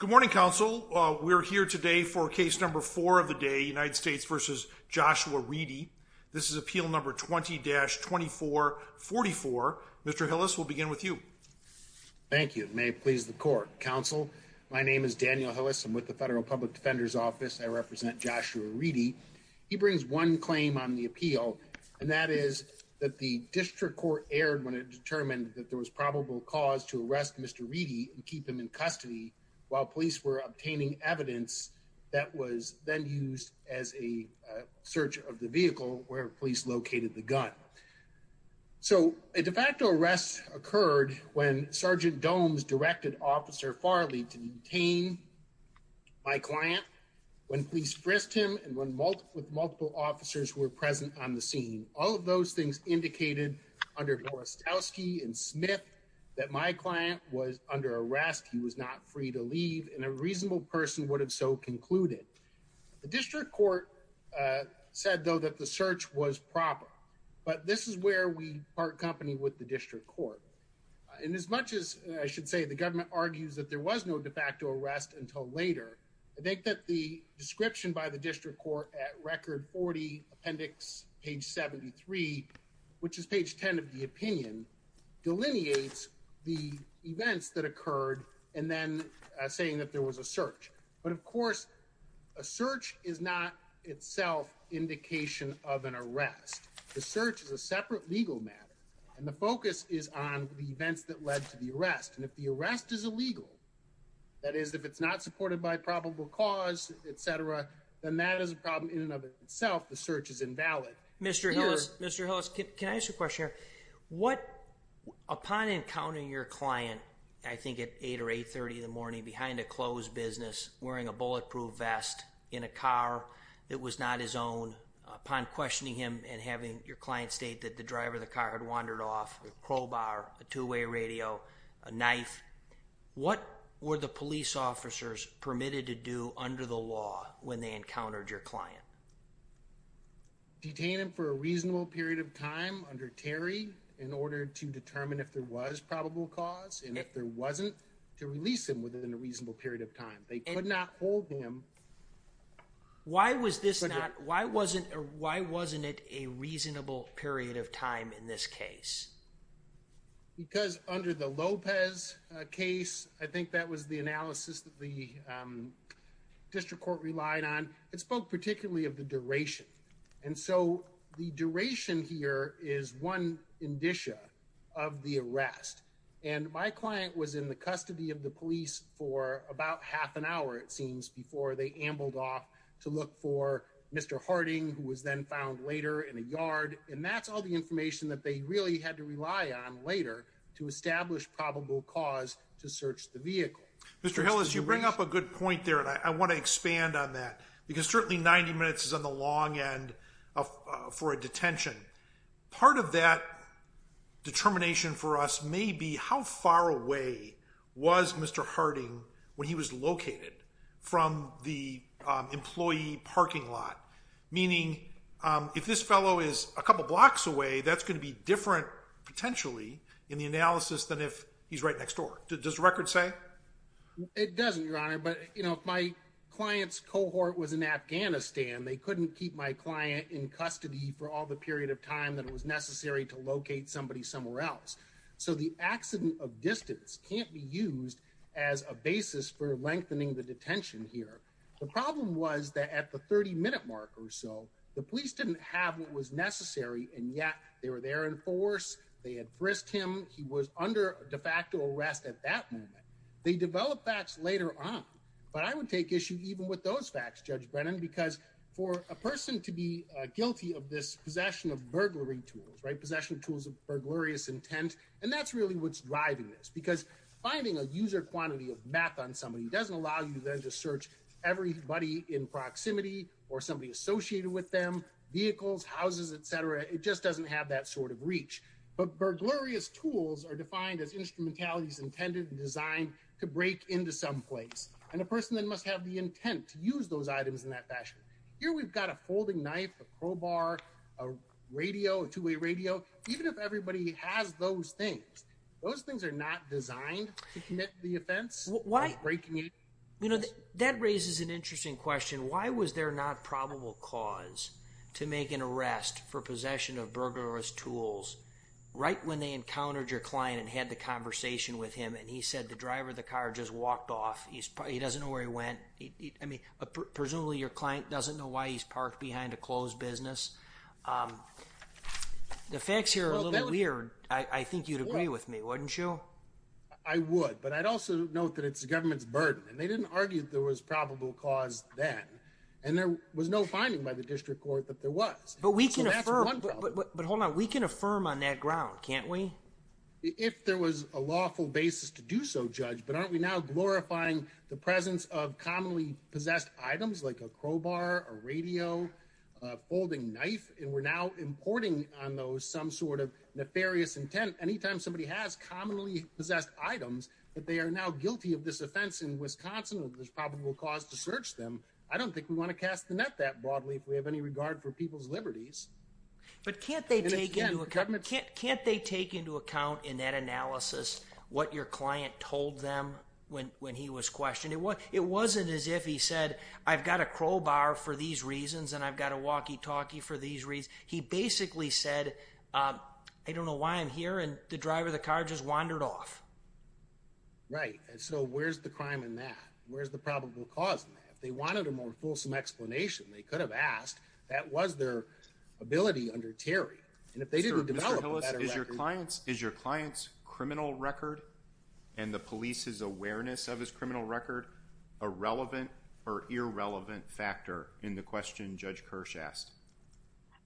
This is Appeal No. 20-2444. Mr. Hillis, we'll begin with you. Thank you. May it please the Court. Counsel, my name is Daniel Hillis. I'm with the Federal Public Defender's Office. I represent Joshua Reedy. He brings one claim on the appeal, and that is that the District Court erred when it determined that there was probable cause to arrest Mr. Reedy and keep him in custody while police were obtaining evidence that was then used as a search of the vehicle where police located the gun. So, a de facto arrest occurred when Sergeant Domes directed Officer Farley to detain my client, when police frisked him, and when multiple officers were present on the scene. All of those things indicated under Borastowski and Smith that my client was under arrest, he was not free to leave, and a reasonable person would have so concluded. The District Court said, though, that the search was proper, but this is where we part company with the District Court. And as much as I should say the government argues that there was no de facto arrest until later, I think that the description by the District Court at Record 40 Appendix page 73, which is page 10 of the opinion, delineates the events that occurred and then saying that there was a search. But, of course, a search is not itself indication of an arrest. The search is a separate legal matter, and the focus is on the events that led to the arrest. And if the arrest is illegal, that is, if it's not supported by probable cause, etc., then that is a problem in and of itself. The search is invalid. Mr. Hillis, can I ask you a question here? Upon encountering your client, I think at 8 or 8.30 in the morning behind a closed business, wearing a bulletproof vest in a car that was not his own, upon questioning him and having your client state that the driver of the car had wandered off, a crowbar, a two-way radio, a knife, what were the police officers permitted to do under the law when they encountered your client? Detain him for a reasonable period of time under Terry in order to determine if there was probable cause, and if there wasn't, to release him within a reasonable period of time. They could not hold him. Why was this not, why wasn't it a reasonable period of time in this case? Because under the Lopez case, I think that was the analysis that the district court relied on. It spoke particularly of the duration. And so the duration here is one indicia of the arrest. And my client was in the custody of the police for about half an hour, it seems, before they ambled off to look for Mr. Harding, who was then found later in a yard. And that's all the information that they really had to rely on later to establish probable cause to search the vehicle. Mr. Hillis, you bring up a good point there, and I want to expand on that. Because certainly 90 minutes is on the long end for a detention. Part of that determination for us may be how far away was Mr. Harding when he was located from the employee parking lot? Meaning, if this fellow is a couple blocks away, that's going to be different, potentially, in the analysis than if he's right next door. Does the record say? It doesn't, Your Honor. But if my client's cohort was in Afghanistan, they couldn't keep my client in custody for all the period of time that it was necessary to locate somebody somewhere else. So the accident of distance can't be used as a basis for lengthening the detention here. The problem was that at the 30-minute mark or so, the police didn't have what was necessary, and yet they were there in force. They had frisked him. He was under de facto arrest at that moment. They developed facts later on. But I would take issue even with those facts, Judge Brennan, because for a person to be guilty of this possession of burglary tools, possession of tools of burglarious intent, and that's really what's driving this. Because finding a user quantity of math on somebody doesn't allow you then to search everybody in proximity or somebody associated with them, vehicles, houses, etc. It just doesn't have that sort of reach. But burglarious tools are defined as instrumentalities intended and designed to break into some place, and a person then must have the intent to use those items in that fashion. Here we've got a folding knife, a crowbar, a radio, a two-way radio. Even if everybody has those things, those things are not designed to commit the offense. That raises an interesting question. Why was there not probable cause to make an arrest for possession of burglarous tools right when they encountered your client and had the conversation with him, and he said the driver of the car just walked off? He doesn't know where he went. I mean, presumably your client doesn't know why he's parked behind a closed business. The facts here are a little weird. I think you'd agree with me, wouldn't you? Well, I would, but I'd also note that it's the government's burden, and they didn't argue that there was probable cause then, and there was no finding by the district court that there was. But we can affirm on that ground, can't we? If there was a lawful basis to do so, Judge, but aren't we now glorifying the presence of commonly possessed items like a crowbar, a radio, a folding knife, and we're now importing on those some sort of nefarious intent. Anytime somebody has commonly possessed items, that they are now guilty of this offense in Wisconsin, there's probable cause to search them. I don't think we want to cast the net that broadly if we have any regard for people's liberties. But can't they take into account in that analysis what your client told them when he was questioned? It wasn't as if he said, I've got a crowbar for these reasons, and I've got a walkie-talkie for these reasons. He basically said, I don't know why I'm here, and the driver of the car just wandered off. Right, and so where's the crime in that? Where's the probable cause in that? If they wanted a more fulsome explanation, they could have asked, that was their ability under Terry. And if they didn't develop a better record... Mr. Hillis, is your client's criminal record and the police's awareness of his criminal record a relevant or irrelevant factor in the question Judge Kirsch asked?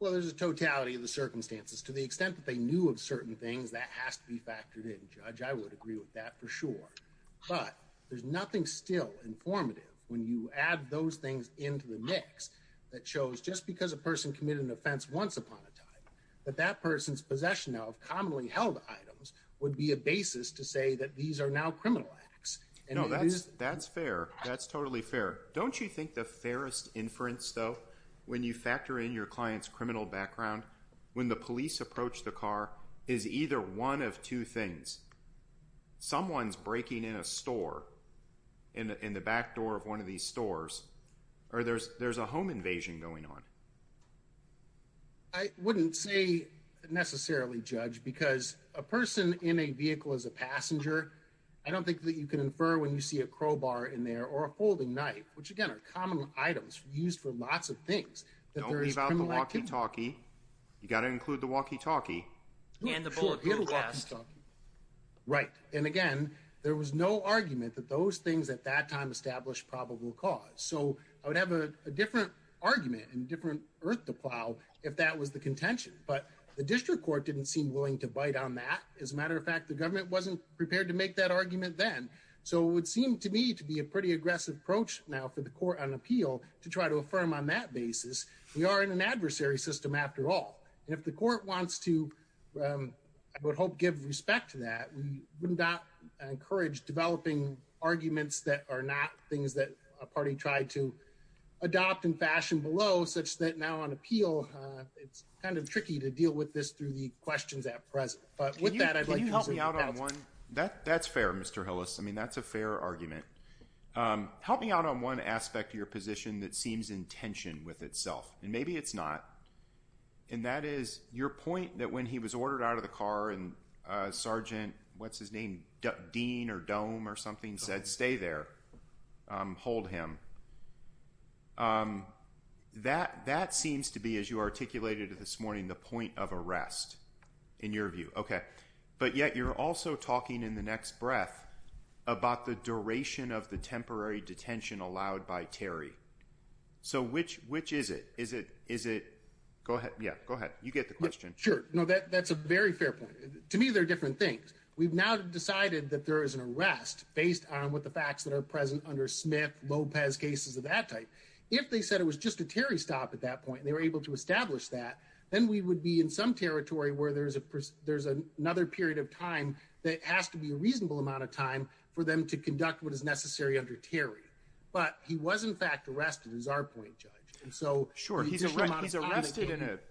Well, there's a totality of the circumstances. To the extent that they knew of certain things, that has to be factored in, Judge. I would agree with that for sure. But there's nothing still informative when you add those things into the mix that shows just because a person committed an offense once upon a time, that that person's possession of commonly held items would be a basis to say that these are now criminal acts. No, that's fair. That's totally fair. Don't you think the fairest inference, though, when you factor in your client's criminal background, when the police approach the car, is either one of two things. Someone's breaking in a store, in the back door of one of these stores, or there's a home invasion going on. I wouldn't say necessarily, Judge, because a person in a vehicle as a passenger, I don't think that you can infer when you see a crowbar in there or a folding knife, which again are common items used for lots of things. Don't leave out the walkie-talkie. You've got to include the walkie-talkie. Right. And again, there was no argument that those things at that time established probable cause. So I would have a different argument and different earth to plow if that was the contention. But the district court didn't seem willing to bite on that. As a matter of fact, the government wasn't prepared to make that argument then. So it would seem to me to be a pretty aggressive approach now for the court on appeal to try to affirm on that basis. We are in an adversary system after all. If the court wants to, I would hope, give respect to that. We would not encourage developing arguments that are not things that a party tried to adopt in fashion below, such that now on appeal, it's kind of tricky to deal with this through the questions at present. But with that, I'd like to help me out on one. That's fair, Mr. Hillis. I mean, that's a fair argument. Help me out on one aspect of your position that seems in tension with itself. And maybe it's not. And that is your point that when he was ordered out of the car and Sergeant, what's his name? Dean or Dome or something said, stay there. Hold him. That seems to be, as you articulated this morning, the point of arrest in your view. OK, but yet you're also talking in the next breath about the duration of the temporary detention allowed by Terry. So which which is it? Is it is it? Go ahead. Yeah, go ahead. You get the question. Sure. No, that's a very fair point. To me, they're different things. We've now decided that there is an arrest based on what the facts that are present under Smith Lopez cases of that type. If they said it was just a Terry stop at that point, they were able to establish that. Then we would be in some territory where there is a there's another period of time that has to be a reasonable amount of time for them to conduct what is necessary under Terry. But he was, in fact, arrested is our point, Judge. And so, sure, he's arrested.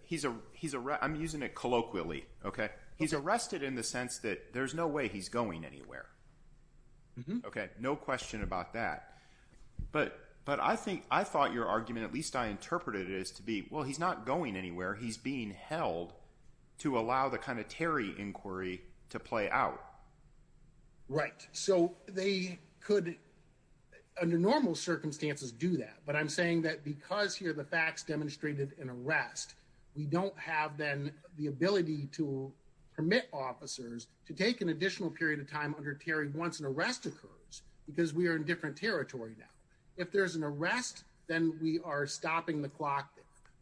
He's a he's a I'm using it colloquially. OK, he's arrested in the sense that there's no way he's going anywhere. OK, no question about that. But but I think I thought your argument, at least I interpreted it as to be, well, he's not going anywhere. He's being held to allow the kind of Terry inquiry to play out. Right. So they could under normal circumstances do that. But I'm saying that because here the facts demonstrated an arrest, we don't have then the ability to permit officers to take an additional period of time under Terry once an arrest occurs because we are in different territory. Now, if there's an arrest, then we are stopping the clock.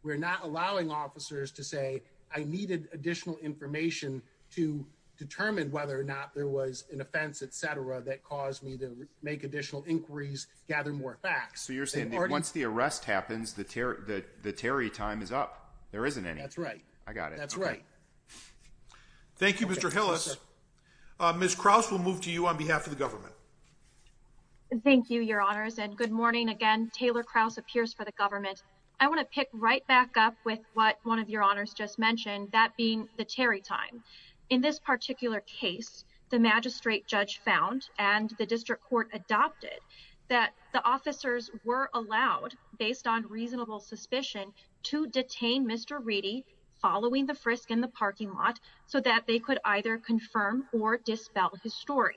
We're not allowing officers to say I needed additional information to determine whether or not there was an offense, et cetera, that caused me to make additional inquiries, gather more facts. So you're saying once the arrest happens, the terror, the the Terry time is up. There isn't any. That's right. I got it. That's right. Thank you, Mr. Hillis. Ms. Krause will move to you on behalf of the government. Thank you, your honors. And good morning again. Taylor Krause appears for the government. I want to pick right back up with what one of your honors just mentioned, that being the Terry time. In this particular case, the magistrate judge found and the district court adopted that the officers were allowed based on reasonable suspicion to detain Mr. Reedy following the frisk in the parking lot so that they could either confirm or dispel his story.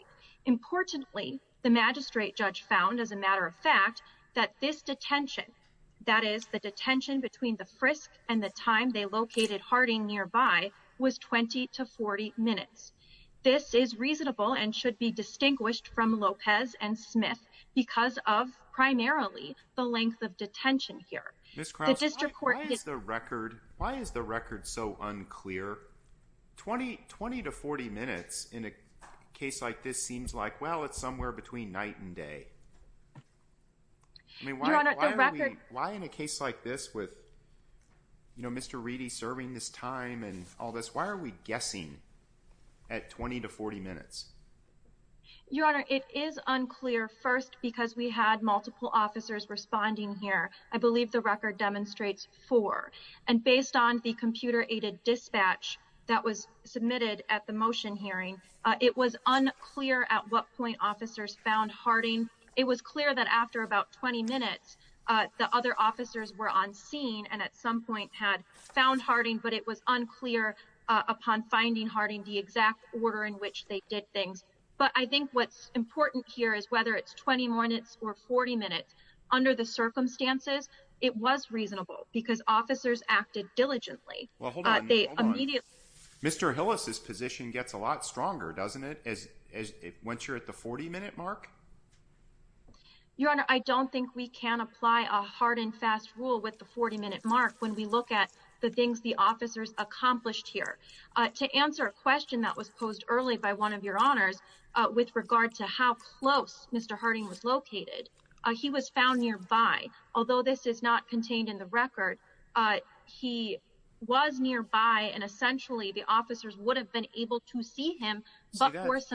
The magistrate judge found, as a matter of fact, that this detention, that is the detention between the frisk and the time they located Harding nearby was 20 to 40 minutes. This is reasonable and should be distinguished from Lopez and Smith because of primarily the length of detention here. The district court is the record. Why is the record so unclear? 20, 20 to 40 minutes in a case like this seems like, well, it's somewhere between night and day. I mean, why? Why in a case like this with Mr. Reedy serving this time and all this, why are we guessing at 20 to 40 minutes? Your Honor, it is unclear first because we had multiple officers responding here. I believe the record demonstrates for and based on the computer aided dispatch that was submitted at the motion hearing. It was unclear at what point officers found Harding. It was clear that after about 20 minutes, the other officers were on scene and at some point had found Harding. But it was unclear upon finding Harding the exact order in which they did things. But I think what's important here is whether it's 20 minutes or 40 minutes under the circumstances, it was reasonable because officers acted diligently. They immediately. Mr. Hillis, his position gets a lot stronger, doesn't it? As once you're at the 40 minute mark. Your Honor, I don't think we can apply a hard and fast rule with the 40 minute mark. When we look at the things the officers accomplished here to answer a question that was posed early by one of your honors with regard to how close Mr. Harding was located. He was found nearby. Although this is not contained in the record, he was nearby. And essentially, the officers would have been able to see him. That's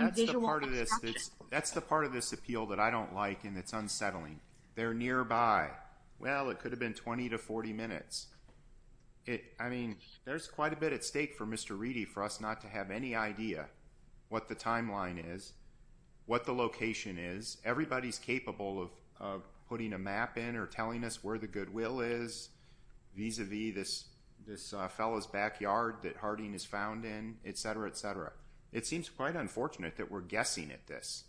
the part of this appeal that I don't like, and it's unsettling there nearby. Well, it could have been 20 to 40 minutes. I mean, there's quite a bit at stake for Mr. What the timeline is, what the location is. Everybody's capable of putting a map in or telling us where the goodwill is vis-a-vis this. This fellow's backyard that Harding is found in, et cetera, et cetera. It seems quite unfortunate that we're guessing at this.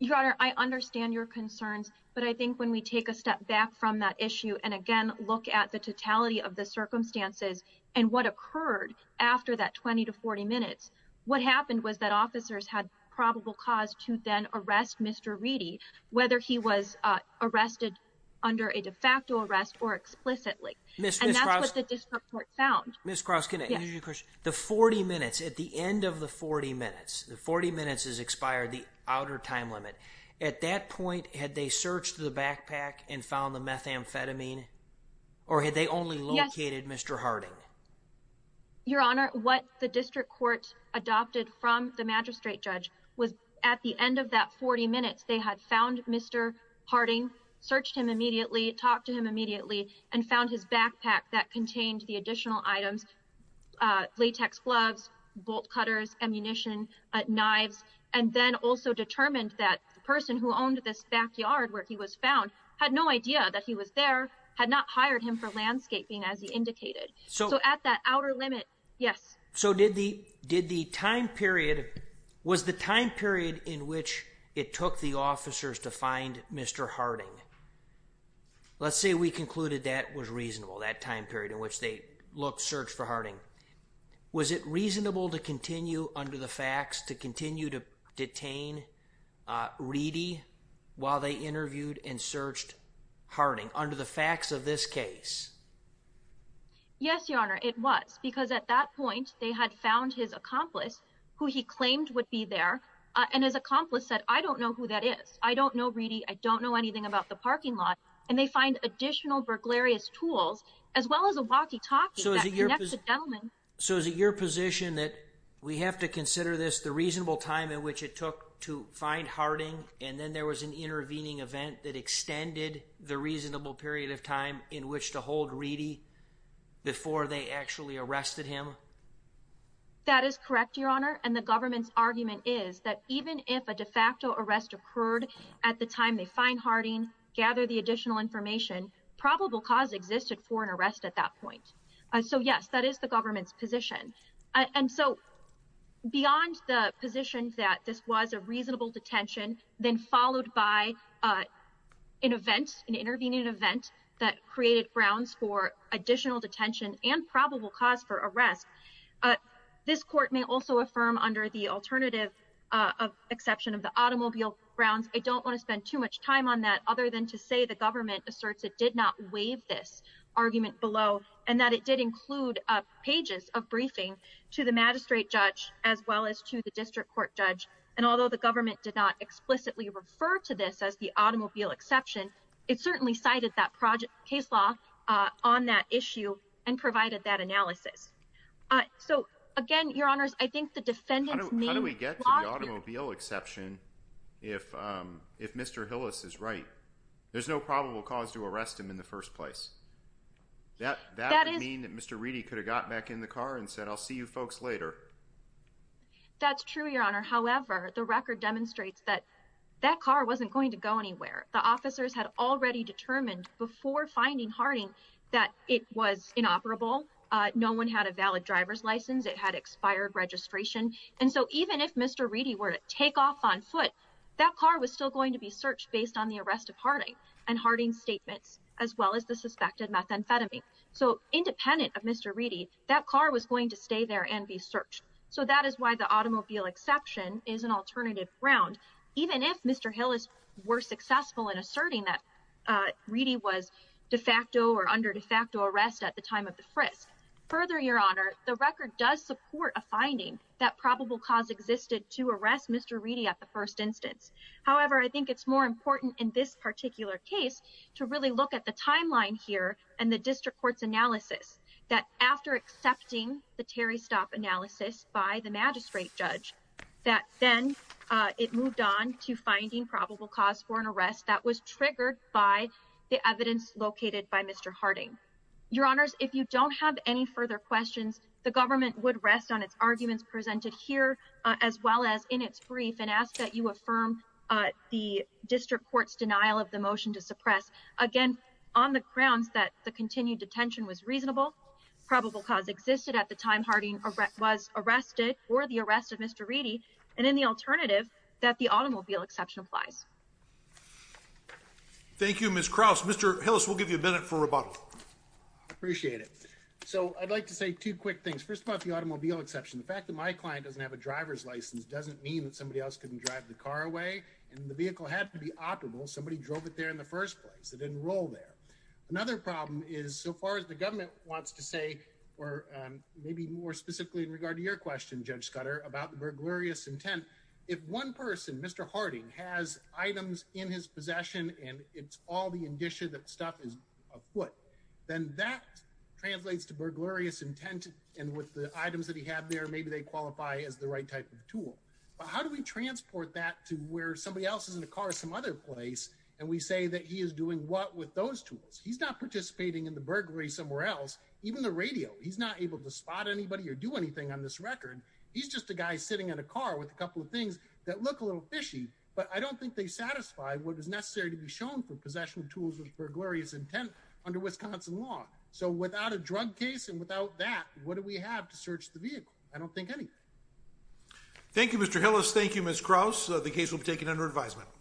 Your Honor, I understand your concerns, but I think when we take a step back from that issue and again, look at the totality of the circumstances. And what occurred after that 20 to 40 minutes? What happened was that officers had probable cause to then arrest Mr. Reedy, whether he was arrested under a de facto arrest or explicitly. And that's what the district court found. Ms. Cross, can I ask you a question? The 40 minutes at the end of the 40 minutes, the 40 minutes has expired the outer time limit. At that point, had they searched the backpack and found the methamphetamine? Or had they only located Mr. Harding? Your Honor, what the district court adopted from the magistrate judge was at the end of that 40 minutes, they had found Mr. Harding, searched him immediately, talked to him immediately and found his backpack that contained the additional items. Latex gloves, bolt cutters, ammunition, knives, and then also determined that the person who owned this backyard where he was found had no idea that he was there. Had not hired him for landscaping as he indicated. So at that outer limit, yes. So did the time period, was the time period in which it took the officers to find Mr. Harding? Let's say we concluded that was reasonable, that time period in which they looked, searched for Harding. Was it reasonable to continue under the facts to continue to detain Reedy while they interviewed and searched Harding? Under the facts of this case? Yes, Your Honor, it was. Because at that point, they had found his accomplice who he claimed would be there. And his accomplice said, I don't know who that is. I don't know Reedy. I don't know anything about the parking lot. And they find additional burglarious tools as well as a walkie-talkie that connects the gentleman. So is it your position that we have to consider this the reasonable time in which it took to find Harding? And then there was an intervening event that extended the reasonable period of time in which to hold Reedy before they actually arrested him? That is correct, Your Honor. And the government's argument is that even if a de facto arrest occurred at the time they find Harding, gather the additional information, probable cause existed for an arrest at that point. So yes, that is the government's position. And so beyond the position that this was a reasonable detention, then followed by an event, an intervening event that created grounds for additional detention and probable cause for arrest, this court may also affirm under the alternative exception of the automobile grounds, I don't want to spend too much time on that other than to say the government asserts it did not waive this argument below and that it did include pages of briefing to the magistrate judge as well as to the district court judge. And although the government did not explicitly refer to this as the automobile exception, it certainly cited that project case law on that issue and provided that analysis. So again, Your Honors, I think the defendant's name… How do we get to the automobile exception if Mr. Hillis is right? There's no probable cause to arrest him in the first place. That would mean that Mr. Reedy could have got back in the car and said, I'll see you folks later. That's true, Your Honor. However, the record demonstrates that that car wasn't going to go anywhere. The officers had already determined before finding Harding that it was inoperable. No one had a valid driver's license. It had expired registration. And so even if Mr. Reedy were to take off on foot, that car was still going to be searched based on the arrest of Harding and Harding's statements as well as the suspected methamphetamine. So independent of Mr. Reedy, that car was going to stay there and be searched. So that is why the automobile exception is an alternative ground, even if Mr. Hillis were successful in asserting that Reedy was de facto or under de facto arrest at the time of the frisk. Further, Your Honor, the record does support a finding that probable cause existed to arrest Mr. Reedy at the first instance. However, I think it's more important in this particular case to really look at the timeline here and the district court's analysis that after accepting the Terry stop analysis by the magistrate judge, that then it moved on to finding probable cause for an arrest that was triggered by the evidence located by Mr. Harding. Your Honors, if you don't have any further questions, the government would rest on its arguments presented here as well as in its brief and ask that you affirm the district court's denial of the motion to suppress. Again, on the grounds that the continued detention was reasonable, probable cause existed at the time Harding was arrested or the arrest of Mr. Reedy, and in the alternative that the automobile exception applies. Thank you, Ms. Krauss. Mr. Hillis, we'll give you a minute for rebuttal. Appreciate it. So I'd like to say two quick things. First, about the automobile exception, the fact that my client doesn't have a driver's license doesn't mean that somebody else couldn't drive the car away. And the vehicle had to be operable. Somebody drove it there in the first place. It didn't roll there. Another problem is so far as the government wants to say, or maybe more specifically in regard to your question, Judge Scudder, about the burglarious intent. If one person, Mr. Harding, has items in his possession and it's all the indicia that stuff is afoot, then that translates to burglarious intent. And with the items that he had there, maybe they qualify as the right type of tool. But how do we transport that to where somebody else is in the car or some other place, and we say that he is doing what with those tools? He's not participating in the burglary somewhere else, even the radio. He's not able to spot anybody or do anything on this record. He's just a guy sitting in a car with a couple of things that look a little fishy, but I don't think they satisfy what is necessary to be shown for possession of tools with burglarious intent under Wisconsin law. So without a drug case and without that, what do we have to search the vehicle? I don't think anything. Thank you, Mr. Hillis. Thank you, Ms. Krause. The case will be taken under advisement.